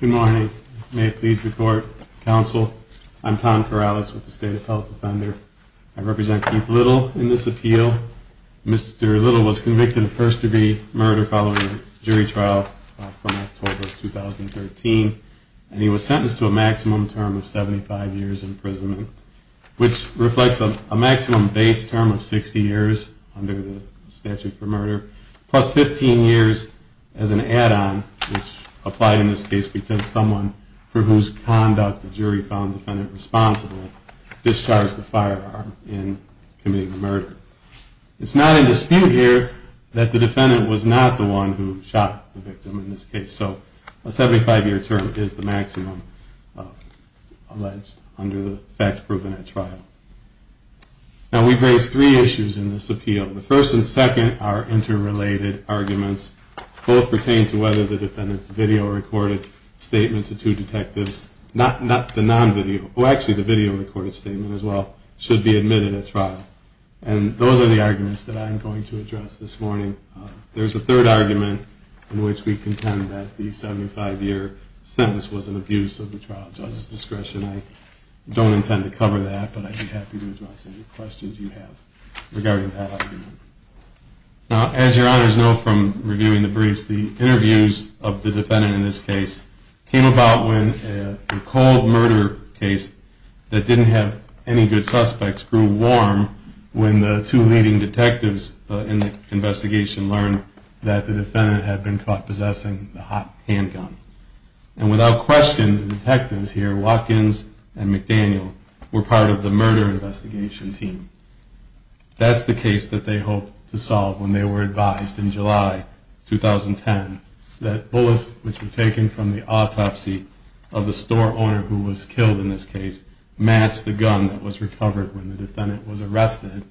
Good morning. May it please the Court, Counsel, I'm Tom Corrales with the State of Health Defender. I represent Keith Little in this appeal. Mr. Little was convicted of first-degree murder following a jury trial from October 2013, and he was sentenced to a maximum term of 75 years imprisonment, which reflects a maximum base term of 60 years under the statute for murder, plus 15 years as an add-on, which applied in this case because someone for whose conduct the jury found the defendant responsible discharged the firearm in committing the murder. It's not in dispute here that the defendant was not the one who shot the victim in this case, so a 75-year term is the maximum alleged under the facts proven at trial. Now, we've raised three issues in this appeal. The first and second are interrelated arguments. Both pertain to whether the defendant's video-recorded statement to two detectives, not the non-video, oh, actually the video-recorded statement as well, should be admitted at trial. And those are the arguments that I'm going to address this morning. There's a third argument in which we contend that the 75-year sentence was an abuse of the trial judge's discretion. I don't intend to cover that, but I'd be happy to address any questions you have regarding that argument. Now, as your honors know from reviewing the briefs, the interviews of the defendant in this case came about when a cold murder case that didn't have any good suspects grew warm when the two leading detectives in the investigation learned that the defendant had been caught possessing the hot handgun. And without question, the detectives here, Watkins and McDaniel, were part of the murder investigation team. That's the case that they hoped to solve when they were advised in July 2010 that bullets which were taken from the autopsy of the store owner who was killed in this case matched the gun that was recovered when the defendant was arrested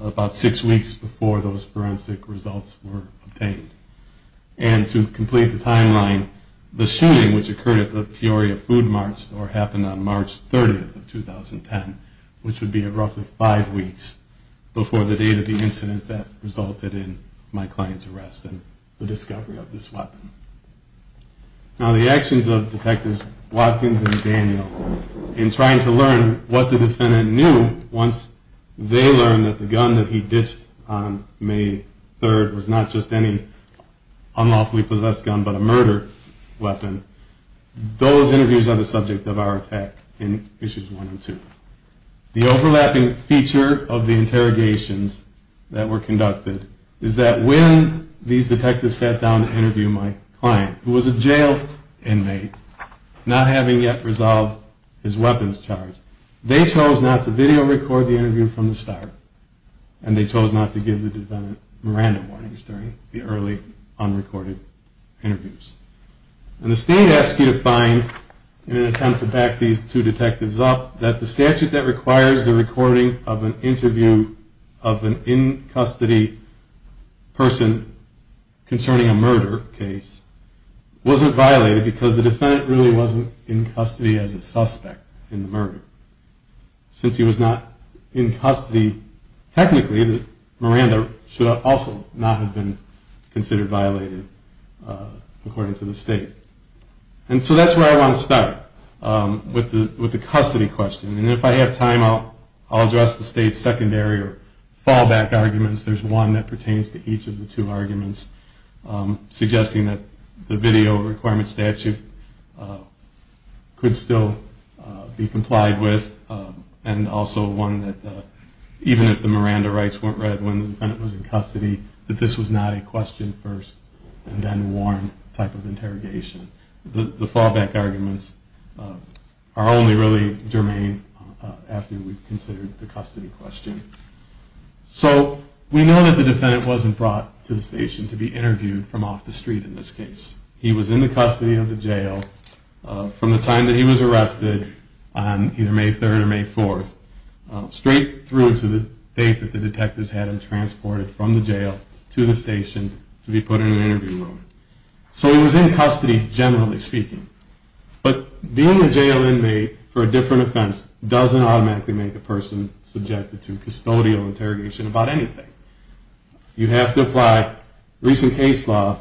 about six weeks before those forensic results were obtained. And to complete the timeline, the shooting which occurred at the Peoria Food Mart store happened on March 30th of 2010, which would be roughly five weeks before the date of the incident that resulted in my client's arrest and the discovery of this weapon. Now, the actions of Detectives Watkins and McDaniel in trying to learn what the defendant knew once they learned that the gun that he possessed was not an unlawfully possessed gun but a murder weapon, those interviews are the subject of our attack in Issues 1 and 2. The overlapping feature of the interrogations that were conducted is that when these detectives sat down to interview my client, who was a jailed inmate not having yet resolved his weapons charge, they chose not to video record the interview from the start and they chose not to give the defendant Miranda warnings during the early unrecorded interviews. And the state asked you to find, in an attempt to back these two detectives up, that the statute that requires the recording of an interview of an in-custody person concerning a murder case wasn't violated because the defendant really wasn't in custody as a suspect in the murder. Since he was not in custody technically, Miranda should also not have been considered violated according to the state. And so that's where I want to start with the custody question. And if I have time, I'll address the state's secondary or fallback arguments. There's one that pertains to each of the two arguments, suggesting that the video requirement statute could still be complied with and also one that even if the Miranda rights weren't read when the defendant was in custody, that this was not a question-first-and-then-warned type of interrogation. The fallback arguments are only really germane after we've considered the custody question. So we know that the defendant wasn't brought to the station to be interviewed from off the street in this case. He was in the custody of the jail from the time that he was arrested on either May 3rd or May 4th, straight through to the date that the detectives had him transported from the jail to the station to be put in an interview room. So he was in custody generally speaking. But being a jail inmate for a different offense doesn't automatically make a person subjected to custodial interrogation about anything. You have to apply recent case law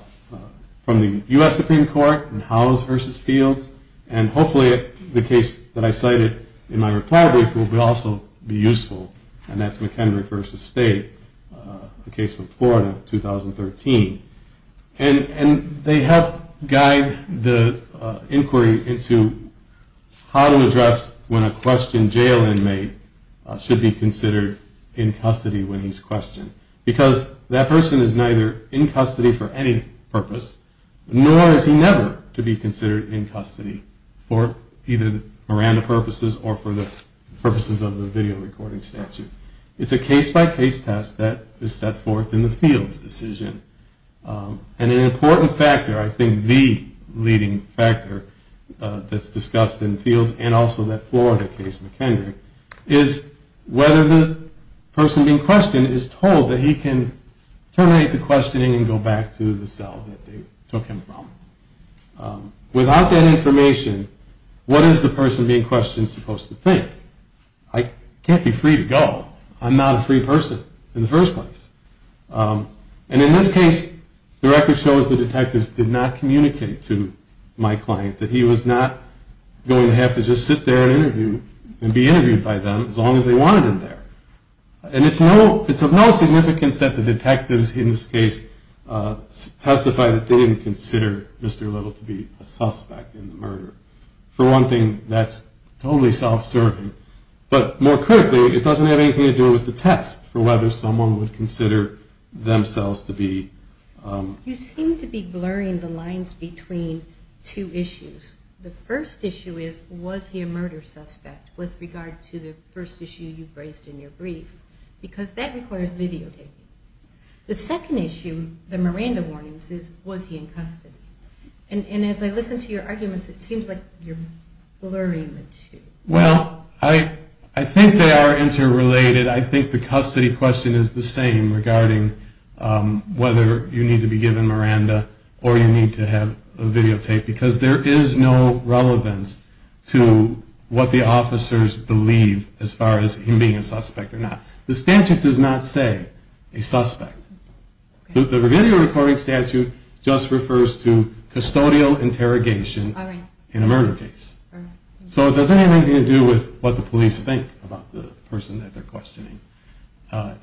from the U.S. Supreme Court in Howells v. Fields, and hopefully the case that I cited in my reply will also be useful, and that's McKendrick v. State, a case from Florida, 2013. And they help guide the inquiry into how to address when a questioned jail inmate should be considered in custody when he's questioned. Because that person is neither in custody for any purpose, nor is he never to be considered in custody for either the Miranda purposes or for the purposes of the video recording statute. It's a case-by-case test that is set forth in the Fields decision. And an important factor, I think the leading factor that's discussed in Fields and also that Florida case, McKendrick, is whether the person being questioned is told that he can terminate the questioning and go back to the cell that they took him from. Without that information, what is the person being questioned supposed to think? I can't be free to go. I'm not a free person in the first place. And in this case, the record shows the detectives did not communicate to my client that he was not going to have to just sit there and interview and be questioned because they wanted him there. And it's of no significance that the detectives in this case testify that they didn't consider Mr. Little to be a suspect in the murder. For one thing, that's totally self-serving. But more critically, it doesn't have anything to do with the test for whether someone would consider themselves to be... You seem to be blurring the lines between two issues. The first issue is, was he a murder suspect with regard to the first issue of the brief, because that requires videotaping. The second issue, the Miranda warnings, is was he in custody. And as I listen to your arguments, it seems like you're blurring the two. Well, I think they are interrelated. I think the custody question is the same regarding whether you need to be given Miranda or you need to have him be a suspect or not. The statute does not say a suspect. The video recording statute just refers to custodial interrogation in a murder case. So it doesn't have anything to do with what the police think about the person that they're questioning.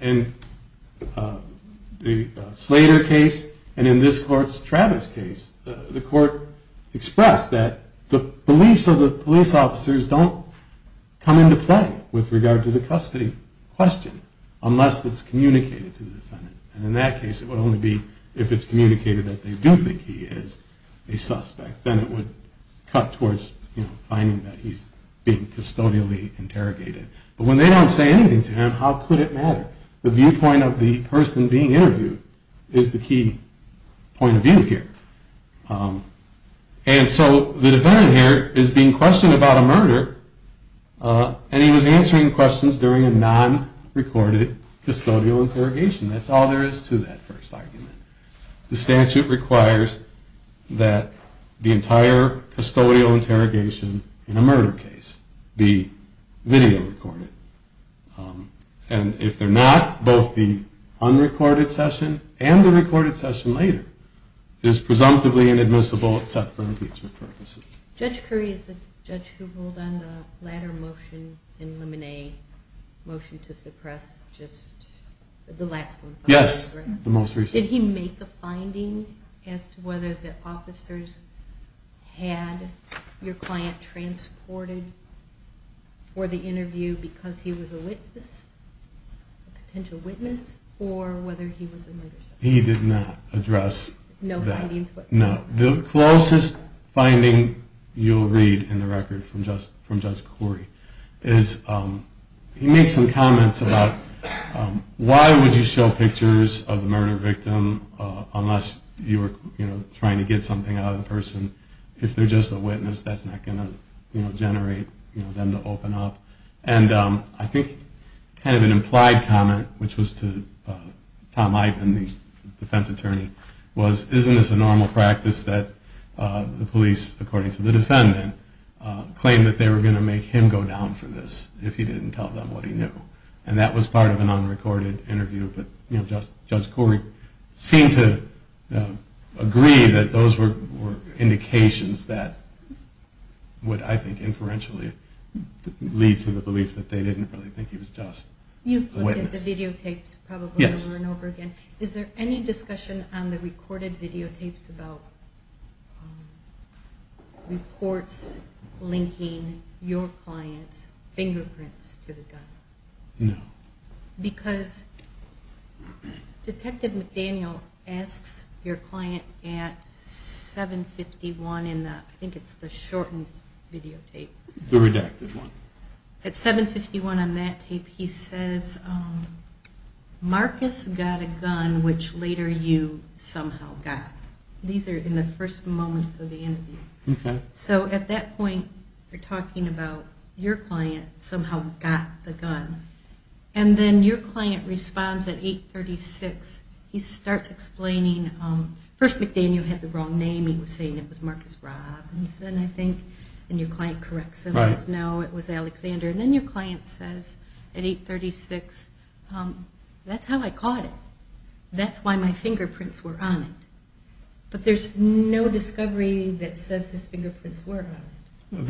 In the Slater case and in this court's Travis case, the court expressed that the beliefs of the police officers don't come into play with regard to the murder of the defendant. So they don't have to answer the custody question unless it's communicated to the defendant. And in that case it would only be if it's communicated that they do think he is a suspect. Then it would cut towards finding that he's being custodially interrogated. But when they don't say anything to him, how could it matter? The viewpoint of the person being interviewed is the key point of view here. And so the defendant here is being questioned about a murder and he was answering questions during a non-recorded custodial interrogation. That's all there is to that first argument. The statute requires that the entire custodial interrogation in a murder case be video recorded. And if they're not, both the unrecorded session and the recorded session later is presumptively inadmissible except for impeachment purposes. Judge Curry is the judge who ruled on the latter motion in Lemonade, the motion to suppress just the last one. Yes, the most recent. Did he make a finding as to whether the officers had your client transported for the interview because he was a witness, a potential witness, or whether he was a witness? He did not address that. No findings? No. The closest finding you'll read in the record from Judge Curry is he made some comments about why would you show pictures of the murder victim unless you were trying to get something out of the person. If they're just a witness, that's not going to generate them to open up. And I think kind of an implied comment, which was to Tom Ivins, which was to the defense attorney, was isn't this a normal practice that the police, according to the defendant, claimed that they were going to make him go down for this if he didn't tell them what he knew. And that was part of an unrecorded interview. But Judge Curry seemed to agree that those were indications that would, I think, inferentially lead to the belief that they didn't really think he was just a witness. You've looked at the records. Is there any discussion on the recorded videotapes about reports linking your client's fingerprints to the gun? No. Because Detective McDaniel asks your client at 751, I think it's the shortened videotape. The redacted one. At 751 on that tape, he says, Marcus got a gun, which later you somehow got. These are in the first moments of the interview. So at that point, you're talking about your client somehow got the gun. And then your client responds at 836. He starts explaining, first McDaniel had the wrong name. He was saying it was Marcus Robinson, I think. And your client corrects him and says, no, it was Alexander. And then your client says, at 836, Marcus Robinson. That's how I caught it. That's why my fingerprints were on it. But there's no discovery that says his fingerprints were on it.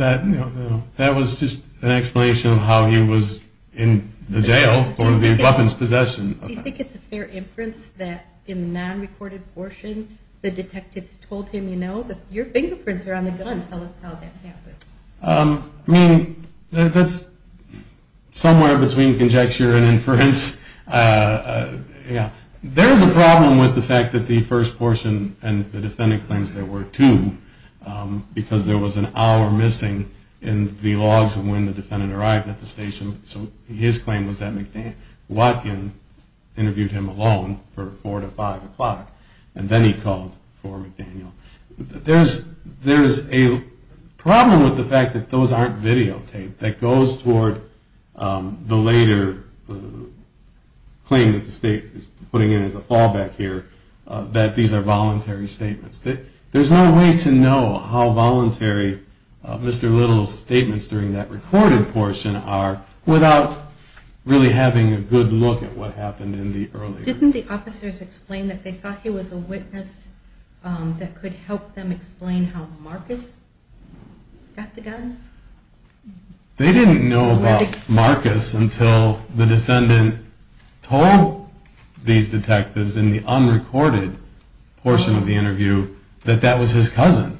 That was just an explanation of how he was in the jail for the weapons possession offense. Do you think it's a fair inference that in the non-recorded portion, the detectives told him, you know, your fingerprints are on the gun. Tell us how that happened. I mean, that's somewhere between conjecture and inference. There's a problem with the fact that the first portion and the defendant claims there were two, because there was an hour missing in the logs of when the defendant arrived at the station. So his claim was that Watkin interviewed him alone for four to five o'clock. And then he called for McDaniel. There's a problem with the fact that those aren't videotaped. That goes toward the later part of the case. And then there's another claim that the state is putting in as a fallback here, that these are voluntary statements. There's no way to know how voluntary Mr. Little's statements during that recorded portion are without really having a good look at what happened in the early. Didn't the officers explain that they thought he was a witness that could help them explain how Marcus got the gun? They didn't know about Marcus until the defendant told these detectives in the unrecorded portion of the interview that that was his cousin.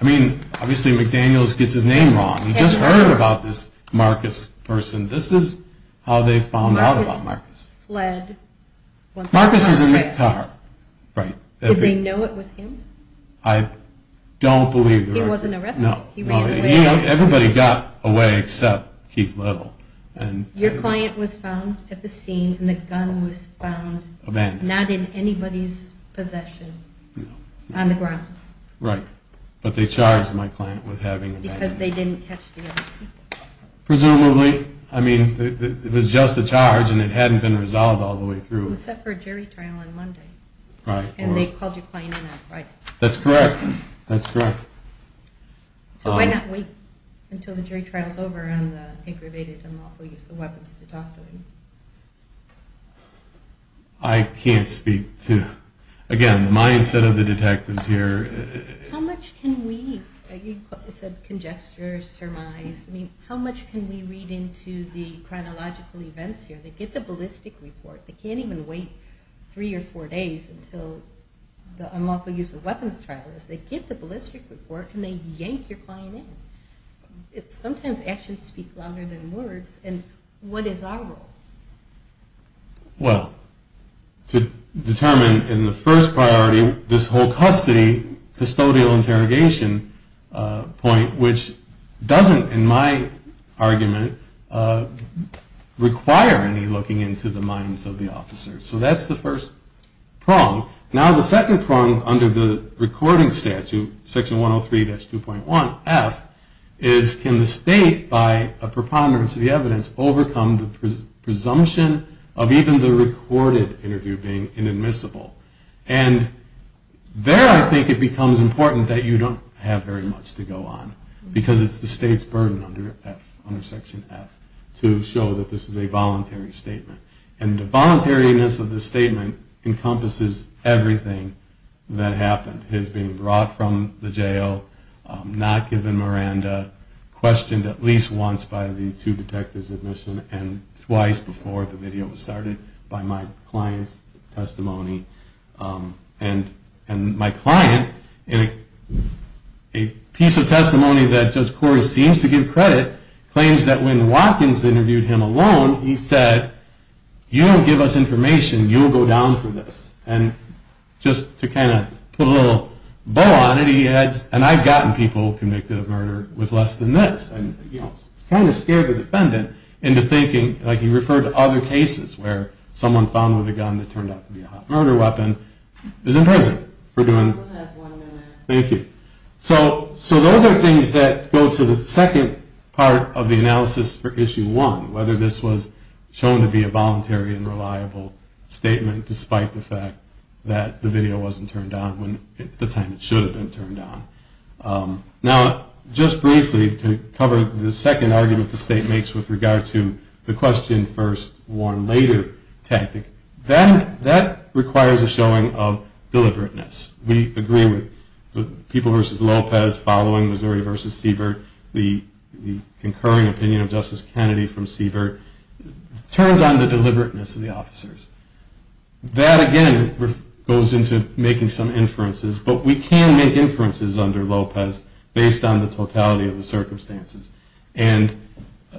I mean, obviously McDaniel gets his name wrong. He just heard about this Marcus person. This is how they found out about Marcus. Marcus was in the car. Did they know it was him? I don't believe they were. He wasn't arrested? No. Everybody got away except Keith Little. Your client was found at the scene and the gun was found not in anybody's possession on the ground? Right. But they charged my client with having a gun. Because they didn't catch the other people? Presumably. I mean, it was just a charge and it hadn't been resolved all the way through. It was set for a jury trial on Monday. Right. And they called your client in on Friday. That's correct. That's correct. So why not wait until the jury trial is over on the aggravated unlawful use of weapons to talk to him? I can't speak to, again, the mindset of the detectives here. How much can we, you said congesture, surmise, I mean, how much can we read into the chronological events here? They get the ballistic report. They can't even wait three or four days until the unlawful use of weapons trial is over. They get the ballistic report and they yank your client in. Sometimes actions speak louder than words. And what is our role? Well, to determine in the first priority this whole custody, custodial interrogation point, which doesn't, in my argument, require any looking into the minds of the officers. So that's the first prong. Now the second prong under the recording statute, Section 103-2.1F, is can the state, by a preponderance of the evidence, overcome the presumption of even the recorded interview being inadmissible? And there I think it becomes important that you don't have very much to go on, because it's the state's burden under Section F to show that this is a voluntary statement. And the voluntariness of the statement encompasses everything that happened. His being brought from the jail, not given Miranda, questioned at least once by the two detectives at Michigan, and twice before the video was started by my client's testimony. And my client, in a piece of testimony that Judge Corey seems to give credit, claims that he was convicted of murder. He claims that when Watkins interviewed him alone, he said, you don't give us information, you will go down for this. And just to kind of put a little bow on it, he adds, and I've gotten people convicted of murder with less than this. And kind of scared the defendant into thinking, like he referred to other cases where someone found with a gun that turned out to be a murder weapon is in prison. Thank you. So those are things that go to the second part of the analysis for issue one, whether this was shown to be a voluntary and reliable statement, despite the fact that the video wasn't turned on at the time it should have been turned on. Now, just briefly, to cover the second argument the state makes with regard to the question first, warn later tactic, that requires a showing of deliberateness. We agree with the people versus Lopez following Missouri versus Siebert. The concurring opinion of Justice Kennedy from Siebert turns on the deliberateness of the officers. That, again, goes into making some inferences, but we can make inferences under Lopez based on the totality of the circumstances. And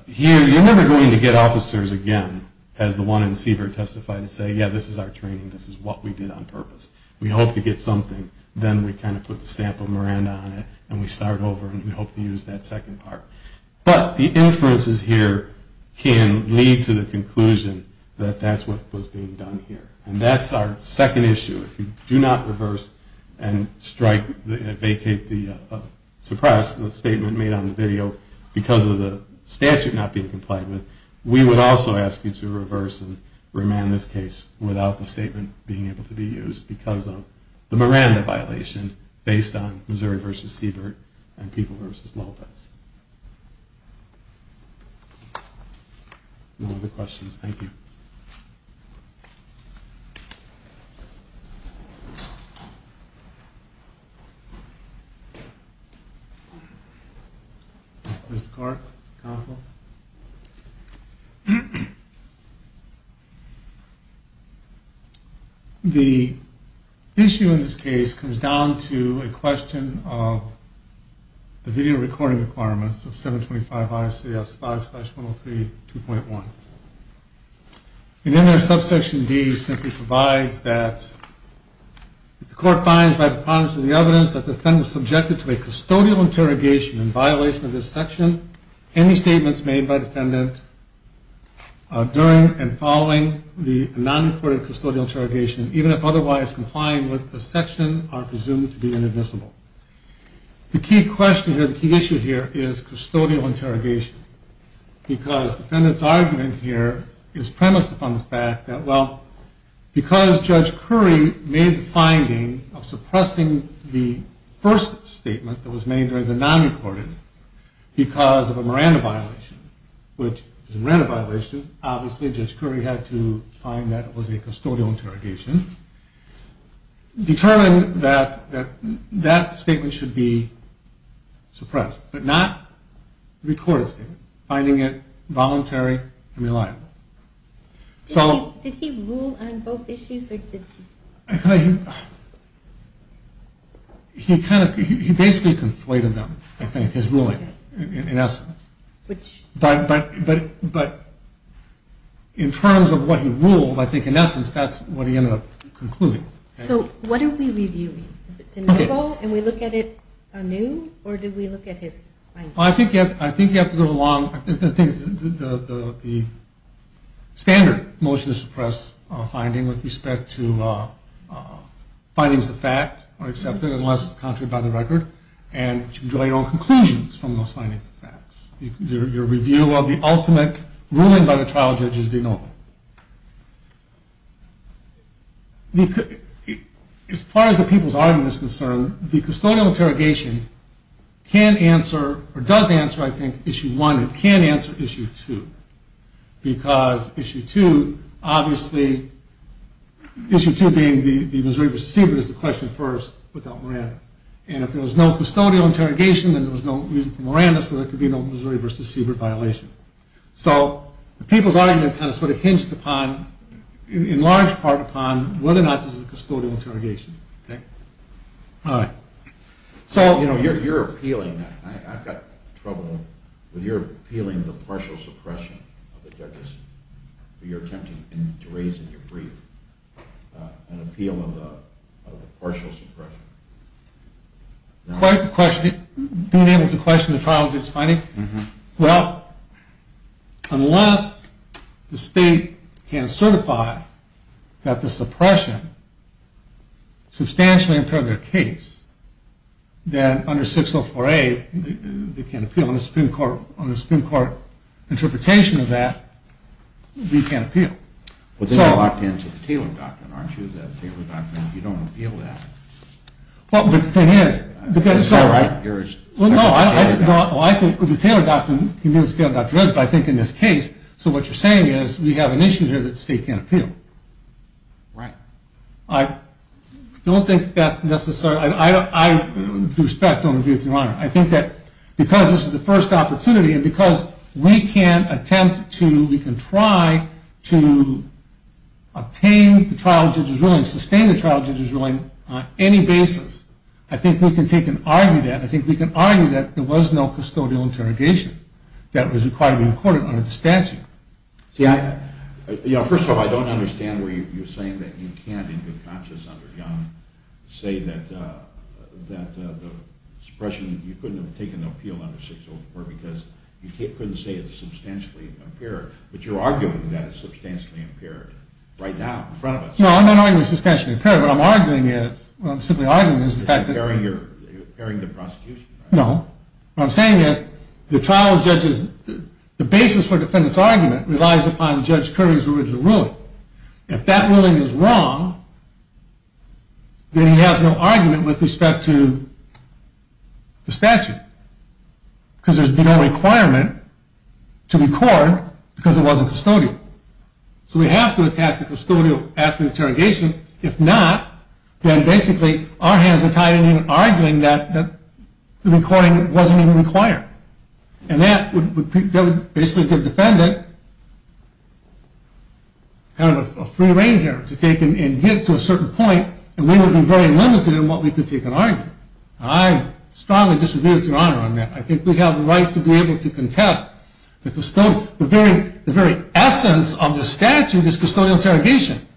here, you're never going to get officers again, as the one in Siebert testified, and say, yeah, this is our training. This is what we did on purpose. We hope to get something. Then we kind of put the stamp of Miranda on it, and we start over, and we hope to use that second part. But the inferences here can lead to the conclusion that that's what was being done here. And that's our second issue. If you do not reverse and strike, vacate the, suppress the statement made on the video because of the statute not being complied with, we would also ask you to reverse and remand this case without the statement being able to be used because of the Miranda violation based on Missouri versus Siebert and people versus Lopez. No other questions? Thank you. Mr. Clark, counsel. The issue in this case comes down to a question of the video recording requirements of 725 ICS 5-103.2.1. And then our subsection D simply provides that if the court finds by preponderance of the evidence that the defendant was subjected to a custodial interrogation in violation of this section, any statements made by the defendant during and following the non-recorded custodial interrogation, even if otherwise complying with the section, are presumed to be inadmissible. The key question here, the key issue here, is custodial interrogation. Because the defendant's argument here is premised upon the fact that, well, because Judge Curry made the finding of suppressing the first statement that was made during the non-recorded because of a Miranda violation, which is a Miranda violation, obviously Judge Curry had to find that it was a custodial interrogation, determined that that statement should be suppressed, but not the recorded statement, finding it voluntary and reliable. So... He basically conflated them, I think, his ruling, in essence. But in terms of what he ruled, I think, in essence, that's what he ended up concluding. So what are we reviewing? Is it de novo, and we look at it anew, or do we look at his findings? I think you have to go along... I think the standard motion to suppress a finding with respect to findings of fact are accepted, unless contrary by the record, and you can draw your own conclusions from those findings of facts. Your review of the ultimate ruling is determined by the trial judge's de novo. As far as the people's argument is concerned, the custodial interrogation can answer, or does answer, I think, Issue 1, and can answer Issue 2, because Issue 2, obviously, Issue 2 being the Missouri v. Siebert is the question first without Miranda, and if there is a custodial interrogation, the people's argument hinges upon, in large part, upon whether or not this is a custodial interrogation. You're appealing... I've got trouble with your appealing the partial suppression of the judges, or your attempting to raise in your brief an appeal of the partial suppression. Quite the question. Being able to question the trial judge's finding? Well, unless the state can certify that the suppression substantially impaired their case, then under 604A, they can't appeal. On the Supreme Court interpretation of that, we can't appeal. But then you're locked into the Taylor Doctrine, aren't you? The Taylor Doctrine, you don't appeal that. Well, no, I think the Taylor Doctrine, I think in this case, so what you're saying is we have an issue here that the state can't appeal. Right. I don't think that's necessary. I respect your view, Your Honor. I think that because this is the first opportunity, and because we can't attempt to, we can try to obtain the trial judge's ruling, sustain the trial judge's ruling on any basis, I think we can take and argue that. I think we can argue that there was no custodial interrogation that was required to be recorded under the statute. See, I... First of all, I don't understand where you're saying that you can't, in good conscience under Young, say that the suppression, you couldn't have taken an appeal under 604 because you couldn't say it's substantially impaired. But you're arguing that it's substantially impaired right now in front of us. No, I'm not arguing it's substantially impaired. What I'm arguing is, what I'm simply arguing is... You're impairing the prosecution. No. What I'm saying is the trial judge's, the basis for the defendant's argument relies upon Judge Currie's original ruling. So if that ruling is wrong, then he has no argument with respect to the statute. Because there's been no requirement to record because it wasn't custodial. So we have to attack the custodial after the interrogation. If not, then basically our hands are tied in arguing that the recording wasn't even required. And that would basically give the defendant kind of a free rein here to take and get to a certain point. And we would be very limited in what we could take and argue. I strongly disagree with your honor on that. I think we have a right to be able to contest the custodial... The very essence of the statute is custodial interrogation.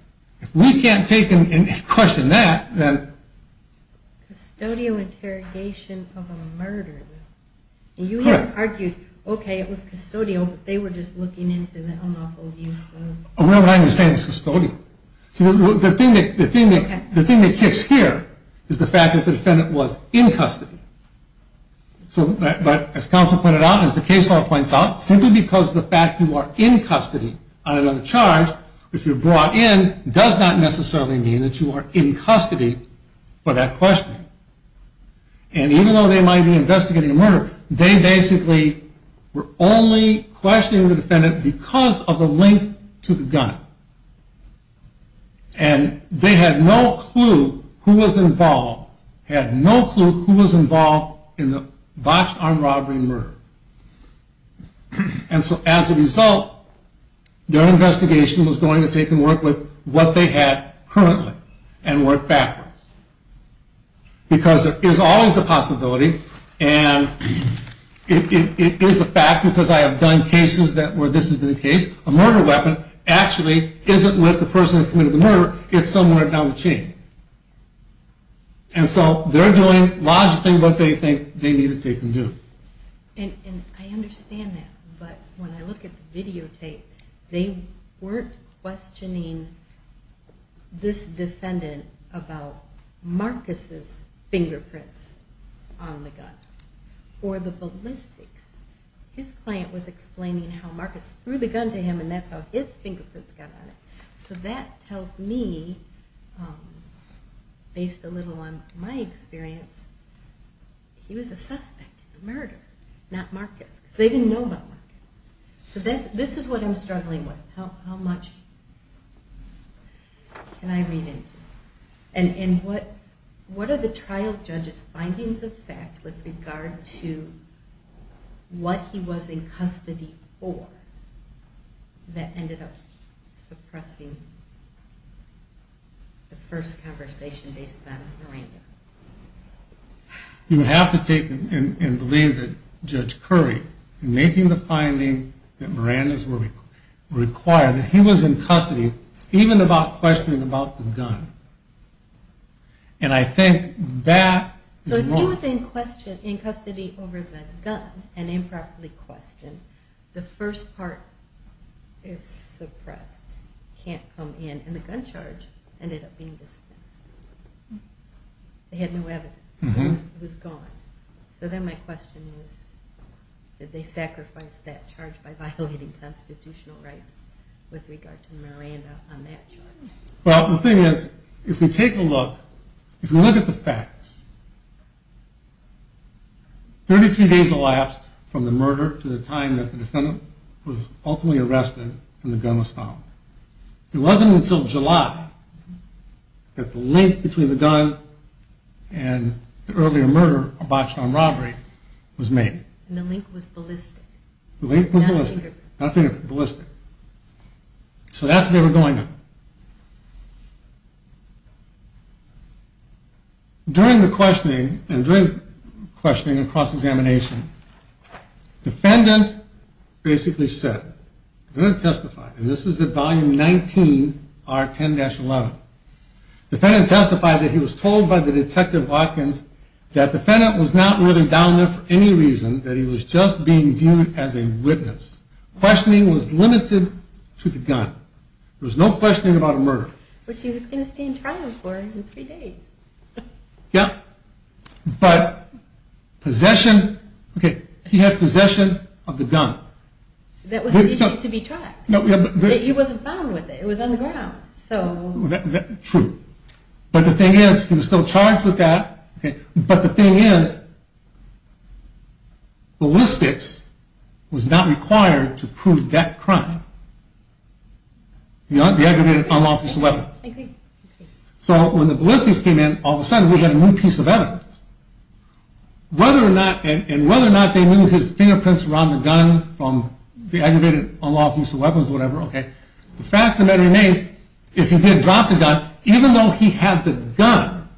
If we can't take and question that, then... So you have argued, okay, it was custodial, but they were just looking into the unlawful use of... No, what I'm saying is custodial. The thing that kicks here is the fact that the defendant was in custody. But as counsel pointed out, and as the case law points out, simply because of the fact that you are in custody on another charge, if you're brought in, does not necessarily mean that you are in custody for that questioning. And even though they might be investigating a murder, they basically were only questioning the defendant because of the link to the gun. And they had no clue who was involved, had no clue who was involved in the botched armed robbery and murder. And so as a result, their investigation was going to take and work with what they had currently, and work backwards. Because there is always the possibility, and it is a fact because I have done cases where this has been the case, a murder weapon actually isn't with the person who committed the murder, it's somewhere down the chain. And so they're doing logically what they think they need to take and do. And I understand that, but when I look at the videotape, they weren't questioning this defendant about Marcus's fingerprints on the gun. Or the ballistics. His client was explaining how Marcus threw the gun to him, and that's how his fingerprints got on it. So that tells me, based a little on my experience, he was a suspect in the murder, not Marcus. Because they didn't know about Marcus. So this is what I'm struggling with. How much can I read into? And what are the trial judge's findings of fact with regard to what he was in custody for that ended up suppressing the first conversation based on Miranda? You would have to take and believe that Judge Curry, in making the finding that Miranda's were required, that he was in custody even about questioning about the gun. And I think that is wrong. So if he was in custody over the gun and improperly questioned, the first part is suppressed. Can't come in. And the gun charge ended up being dismissed. They had no evidence. It was gone. So then my question is, did they sacrifice that charge by violating constitutional rights with regard to Miranda on that charge? Well, the thing is, if we take a look, if we look at the facts, 33 days elapsed from the murder to the time that the defendant was ultimately arrested and the gun was found. It wasn't until July that the link between the gun and the earlier murder or botched armed robbery was made. And the link was ballistic. The link was ballistic. So that's what they were going to. During the questioning, and during questioning and cross-examination, the defendant basically said, I'm going to testify. And this is at volume 19, R10-11. The defendant testified that he was told by the detective Watkins that the defendant was not really down there for any reason, that he was just being viewed as a witness. Questioning was limited to the gun. There was no questioning about a murder. Yeah, but possession, okay, he had possession of the gun. That was the issue to be tried. He wasn't found with it. It was on the ground. True. But the thing is, he was still charged with that. But the thing is, ballistics was not required to prove that crime. The aggravated unlawful use of weapons. So when the ballistics came in, all of a sudden we had a new piece of evidence. Whether or not, and whether or not they knew his fingerprints were on the gun from the aggravated unlawful use of weapons or whatever, okay. The fact of the matter remains, if he did drop the gun, even though he had the gun,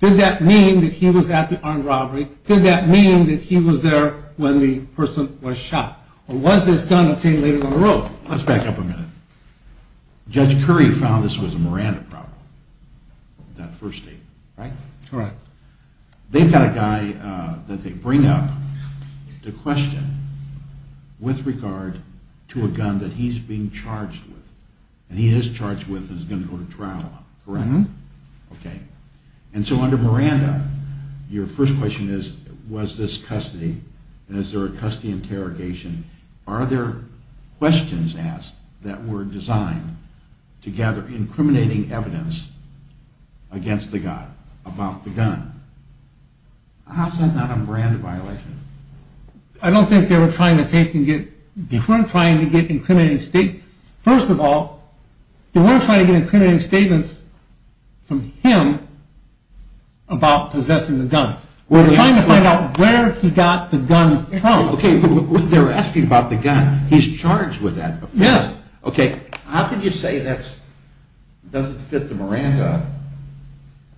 did that mean that he was at the armed robbery? Did that mean that he was there when the person was shot? Or was this gun obtained later in the road? Let's back up a minute. Judge Curry found this was a Miranda problem, that first statement. Right? Correct. They've got a guy that they bring up to question with regard to a gun that he's being charged with. And he is charged with and is going to go to trial, correct? Okay. And so under Miranda, your first question is, was this custody? And is there a custody interrogation? Are there questions asked that were designed to gather incriminating evidence against the guy about the gun? How is that not a Miranda violation? I don't think they were trying to get incriminating statements. First of all, they weren't trying to get incriminating statements from him about possessing the gun. They were trying to find out where he got the gun from. They're asking about the gun. He's charged with that. How can you say that doesn't fit the Miranda?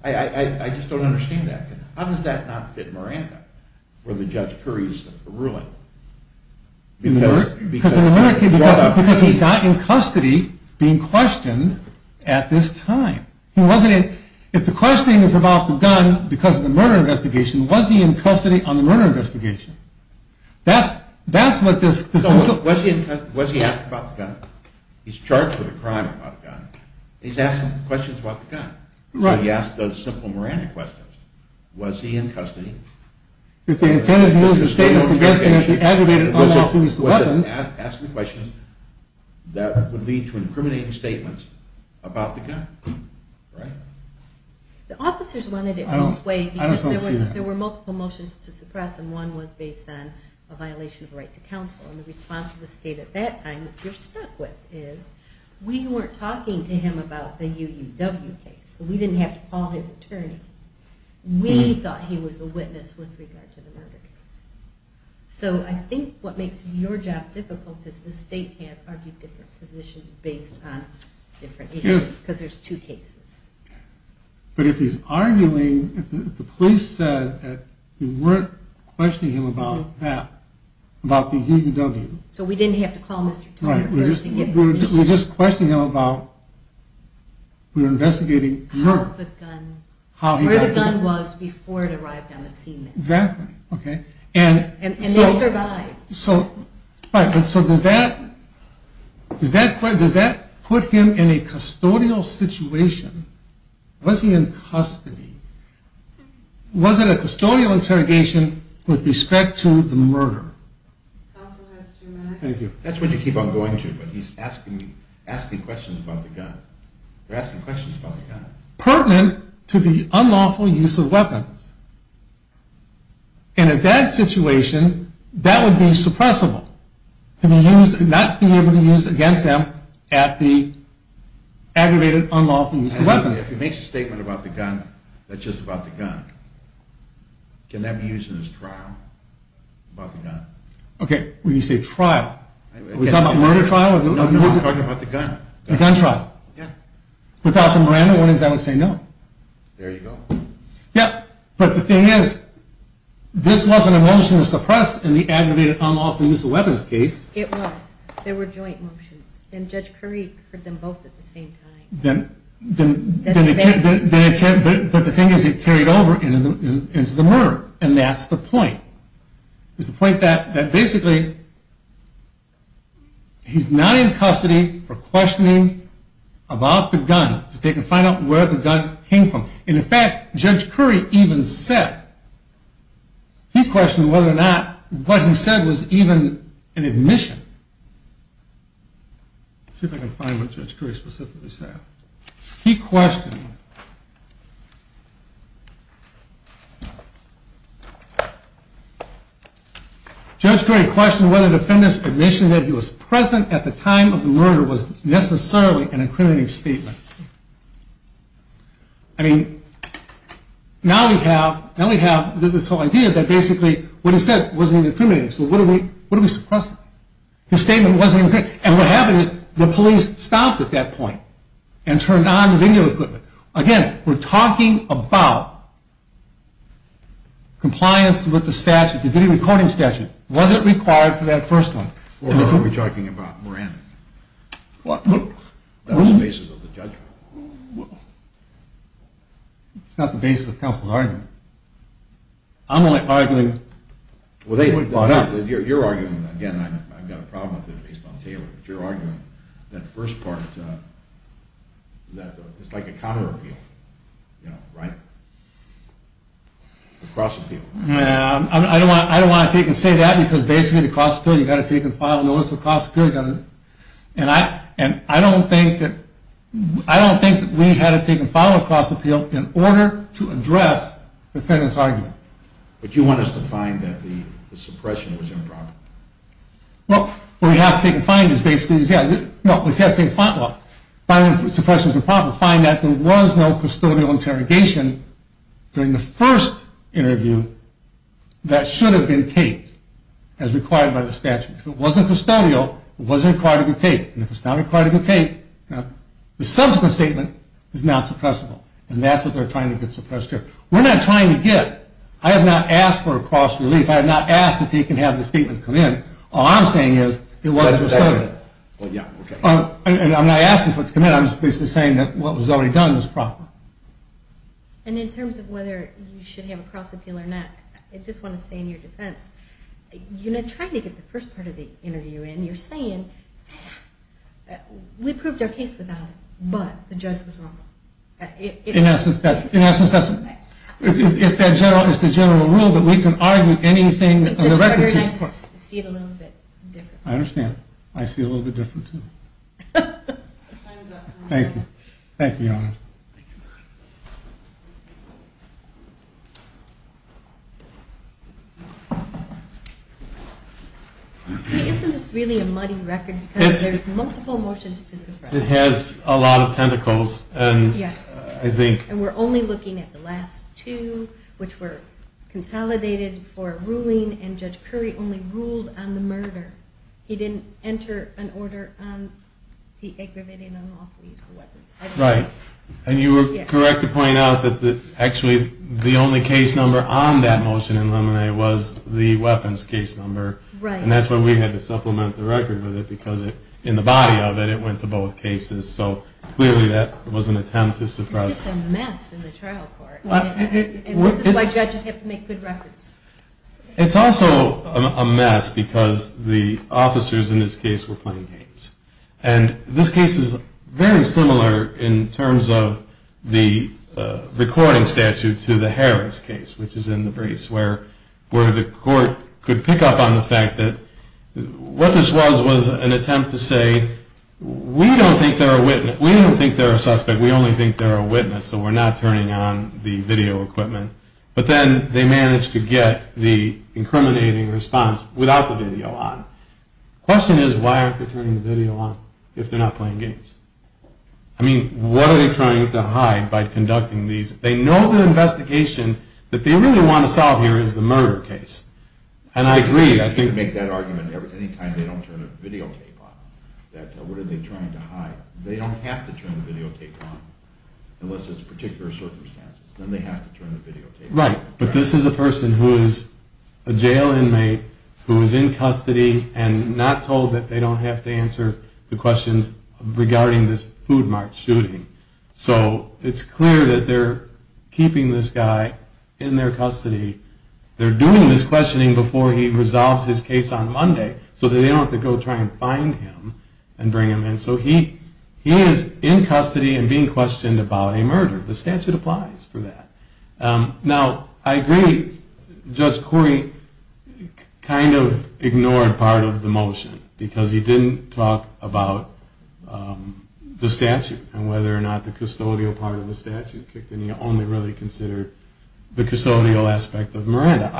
I just don't understand that. How does that not fit Miranda? Because he got in custody being questioned at this time. If the questioning is about the gun because of the murder investigation, was he in custody on the murder investigation? Was he asked about the gun? He's charged with a crime about a gun. He's asking questions about the gun. So he asked those simple Miranda questions. Was he in custody? Was it asking questions that would lead to incriminating statements about the gun? The officers wanted it both ways because there were multiple motions to suppress and one was based on a violation of a right to counsel. And the response of the state at that time that you're stuck with is we weren't talking to him about the UUW case. We didn't have to call his attorney. We thought he was a witness with regard to the murder case. So I think what makes your job difficult is the state has argued different positions based on different issues because there's two cases. But if he's arguing, if the police said that we weren't questioning him about that, about the UUW so we didn't have to call Mr. Turner. We were just questioning him about, we were investigating where the gun was before it arrived on the scene. And he survived. Does that put him in a custodial situation? Was he in custody? Was it a custodial interrogation with respect to the murder? That's what you keep on going to. But he's asking questions about the gun. Pertinent to the unlawful use of weapons. And in that situation, that would be suppressible. To not be able to use against them at the aggravated unlawful use of weapons. If he makes a statement about the gun, that's just about the gun. Can that be used as trial? Okay, when you say trial, are we talking about murder trial? No, we're talking about the gun. Without the Miranda warnings, I would say no. But the thing is, this wasn't a motion to suppress in the aggravated unlawful use of weapons case. It was. There were joint motions. And Judge Curry heard them both at the same time. But the thing is, it carried over into the murder. And that's the point. It's the point that basically, he's not in custody for questioning about the gun. To find out where the gun came from. And in fact, Judge Curry even said he questioned whether or not what he said was even an admission. Let's see if I can find what Judge Curry specifically said. He questioned Judge Curry questioned whether the defendant's admission that he was present at the time of the murder was necessarily an incriminating statement. I mean, now we have this whole idea that basically, what he said wasn't even incriminating. So what do we suppress? His statement wasn't incriminating. And what happened is, the police stopped at that point and turned on the video equipment. Again, we're talking about compliance with the statute, the video recording statute. Was it required for that first one? It's not the basis of counsel's argument. I'm only arguing Your argument, again, I've got a problem with it based on Taylor. Your argument, that first part, it's like a counter-appeal, right? A cross-appeal. I don't want to take and say that because basically the cross-appeal, you've got to take and file a notice of cross-appeal. And I don't think that we had to take and file a cross-appeal in order to address the defendant's argument. But you want us to find that the suppression was improper? Well, what we have to take and find is basically, find that there was no custodial interrogation during the first interview that should have been taped as required by the statute. If it wasn't custodial, it wasn't required to be taped. And if it's not required to be taped, the subsequent statement is not suppressible. And that's what they're trying to get suppressed here. We're not trying to get. I have not asked for a cross-relief. I have not asked if he can have the statement come in. All I'm saying is, it wasn't custodial. And I'm not asking for it to come in. I'm just basically saying that what was already done was proper. And in terms of whether you should have a cross-appeal or not, I just want to say in your defense, you're not trying to get the first part of the interview in. You're saying, we proved our case without it, but the judge was wrong. In essence, that's it. It's the general rule that we can argue anything on the record. I just see it a little bit different. I understand. I see it a little bit different, too. Thank you. Thank you, Your Honor. Thank you. Isn't this really a muddy record? It has a lot of tentacles. And we're only looking at the last two, which were consolidated for a ruling, and Judge Curry only ruled on the murder. He didn't enter an order on the aggravating and unlawful use of weapons. Right. And you were correct to point out that actually the only case number on that motion in Lemonade was the weapons case number. And that's why we had to supplement the record with it, because in the body of it, it went to both cases. So clearly that was an attempt to suppress... It's just a mess in the trial court. And this is why judges have to make good records. It's also a mess because the officers in this case were playing games. And this case is very similar in terms of the recording statute to the Harris case, which is in the briefs, where the court could pick up on the fact that what this was was an attempt to say, we don't think they're a witness. We don't think they're a suspect. We only think they're a witness. So we're not turning on the video equipment. But then they managed to get the incriminating response without the video on. The question is, why aren't they turning the video on if they're not playing games? I mean, what are they trying to hide by conducting these... They know the investigation that they really want to solve here is the murder case. And I agree. I think... They make that argument any time they don't turn the videotape on. They don't have to turn the videotape on unless there's particular circumstances. Then they have to turn the videotape on. Right. But this is a person who is a jail inmate who is in custody and not told that they don't have to answer the questions regarding this Food Mart shooting. So it's clear that they're keeping this guy in their custody. They're doing this questioning before he resolves his case on Monday so that they don't have to go try and find him and bring him in. So he is in custody and being questioned about a murder. The statute applies for that. Now, I agree. Judge Corey kind of ignored part of the motion because he didn't talk about the statute and whether or not the custodial part of the statute kicked in. He only really considered the custodial aspect of Miranda.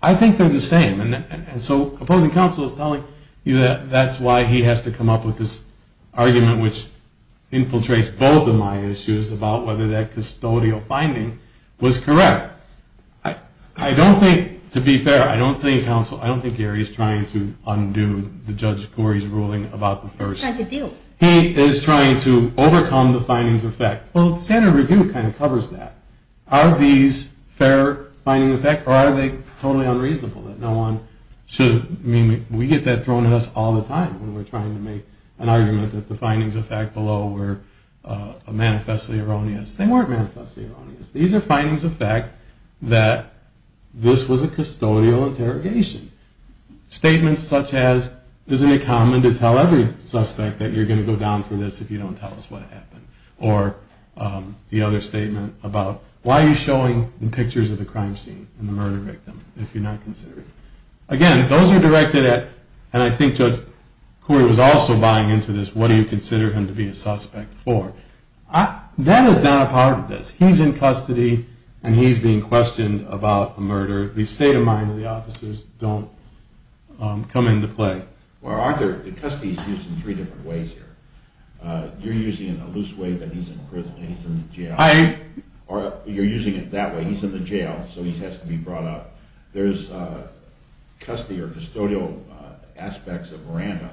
I think they're the same. And so opposing counsel is telling you that's why he has to come up with this argument which infiltrates both of my issues about whether that custodial finding was correct. I don't think, to be fair, I don't think Gary's trying to undo the Judge Corey's ruling about the first... He's trying to do. He is trying to overcome the findings of fact. Well, the standard review kind of covers that. Are these fair findings of fact or are they totally unreasonable that no one should... I mean, we get that thrown at us all the time when we're trying to make an argument that the findings of fact below were manifestly erroneous. They weren't manifestly erroneous. These are findings of fact that this was a custodial interrogation. Statements such as isn't it common to tell every suspect that you're going to go down for this if you don't tell us what happened? Or the other statement about why are you showing pictures of the crime scene and the murder victim if you're not considering? Again, those are directed at, and I think Judge what do you consider him to be a suspect for? That is not a part of this. He's in custody and he's being questioned about a murder. These state of mind of the officers don't come into play. Well, Arthur, the custody is used in three different ways here. You're using it in a loose way that he's in prison and he's in jail. You're using it that way. He's in the jail so he has to be brought up. There's custody or custodial aspects of Miranda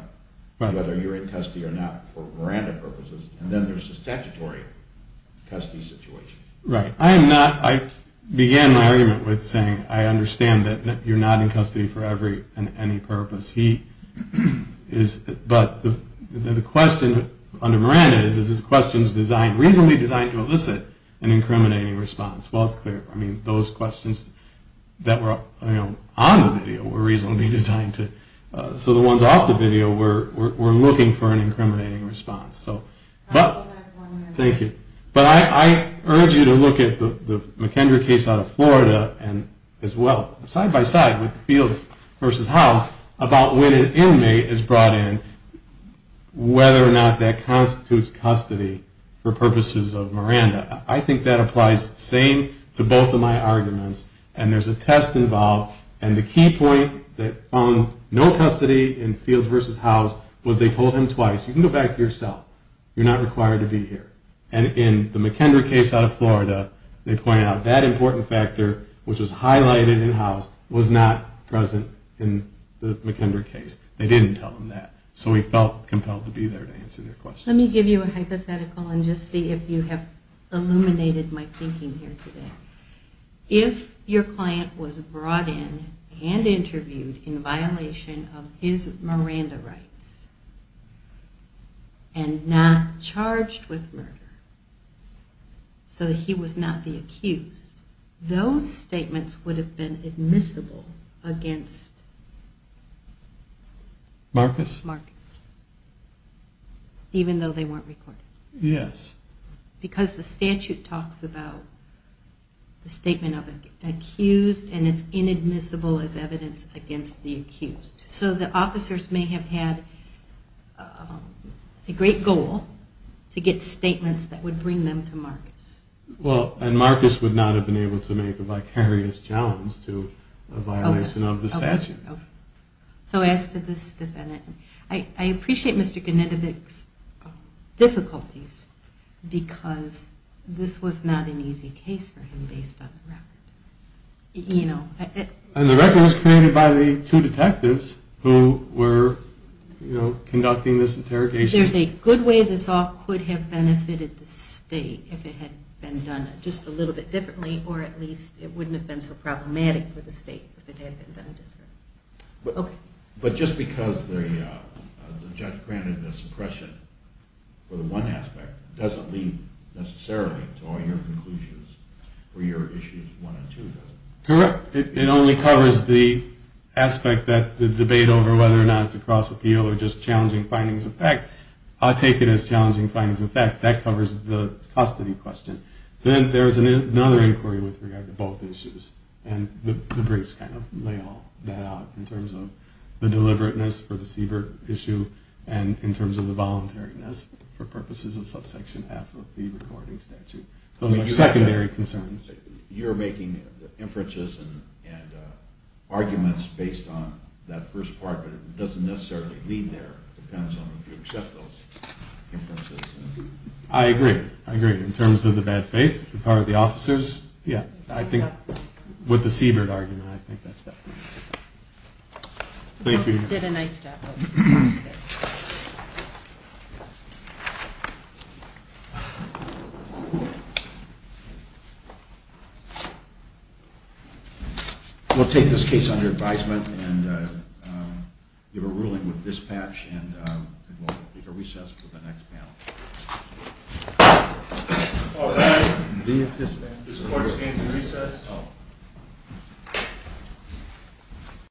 whether you're in custody or not for Miranda purposes. And then there's the statutory custody situation. I began my argument with saying I understand that you're not in custody for any purpose. But the question under Miranda is this question is reasonably designed to elicit an incriminating response. Well, it's clear. Those questions that were on the video were reasonably designed so the ones off the video were looking for an incriminating response. Thank you. But I urge you to look at the McKendry case out of Florida as well, side by side with Fields v. Howes about when an inmate is brought in, whether or not that constitutes custody for purposes of Miranda. I think that applies the same to both of my arguments. And there's a test involved and the key point that found no custody in Fields v. Howes was they told him twice, you can go back to your cell. You're not required to be here. And in the McKendry case out of Florida, they pointed out that important factor, which was highlighted in Howes, was not present in the McKendry case. They didn't tell him that. So he felt compelled to be there to answer their questions. Let me give you a hypothetical and just see if you have illuminated my thinking here today. If your client was brought in and interviewed in violation of his Miranda rights and not charged with murder so that he was not the accused, those statements would have been admissible against Marcus. Marcus. Even though they weren't recorded. Yes. Because the statute talks about the statement of an accused and it's inadmissible as evidence against the accused. So the officers may have had a great goal to get statements that would bring them to Marcus. And Marcus would not have been able to make a vicarious challenge to a violation of the statute. So as to this defendant, I appreciate Mr. Genetovic's difficulties because this was not an easy case for him based on the record. And the record was created by the two detectives who were conducting this interrogation. There's a good way this all could have benefited the state if it had been done just a little bit differently or at least it wouldn't have been so problematic for the state if it had been done differently. But just because the judge granted this impression for the one it doesn't necessarily apply to all your conclusions for your issues one and two. Correct. It only covers the aspect that the debate over whether or not it's a cross appeal or just challenging findings of fact. I take it as challenging findings of fact. That covers the custody question. Then there's another inquiry with regard to both issues. And the briefs kind of lay all that out in terms of the deliberateness for the Siebert issue and in terms of the voluntariness for purposes of subsection F of the recording statute. Those are secondary concerns. You're making inferences and arguments based on that first part but it doesn't necessarily lead there it depends on if you accept those inferences. I agree. I agree. In terms of the bad faith, the power of the officers, yeah. With the Siebert argument I think that's definitely true. Thank you. You did a nice job. We'll take this case under advisement and give a ruling with dispatch and we'll take a recess for the next panel.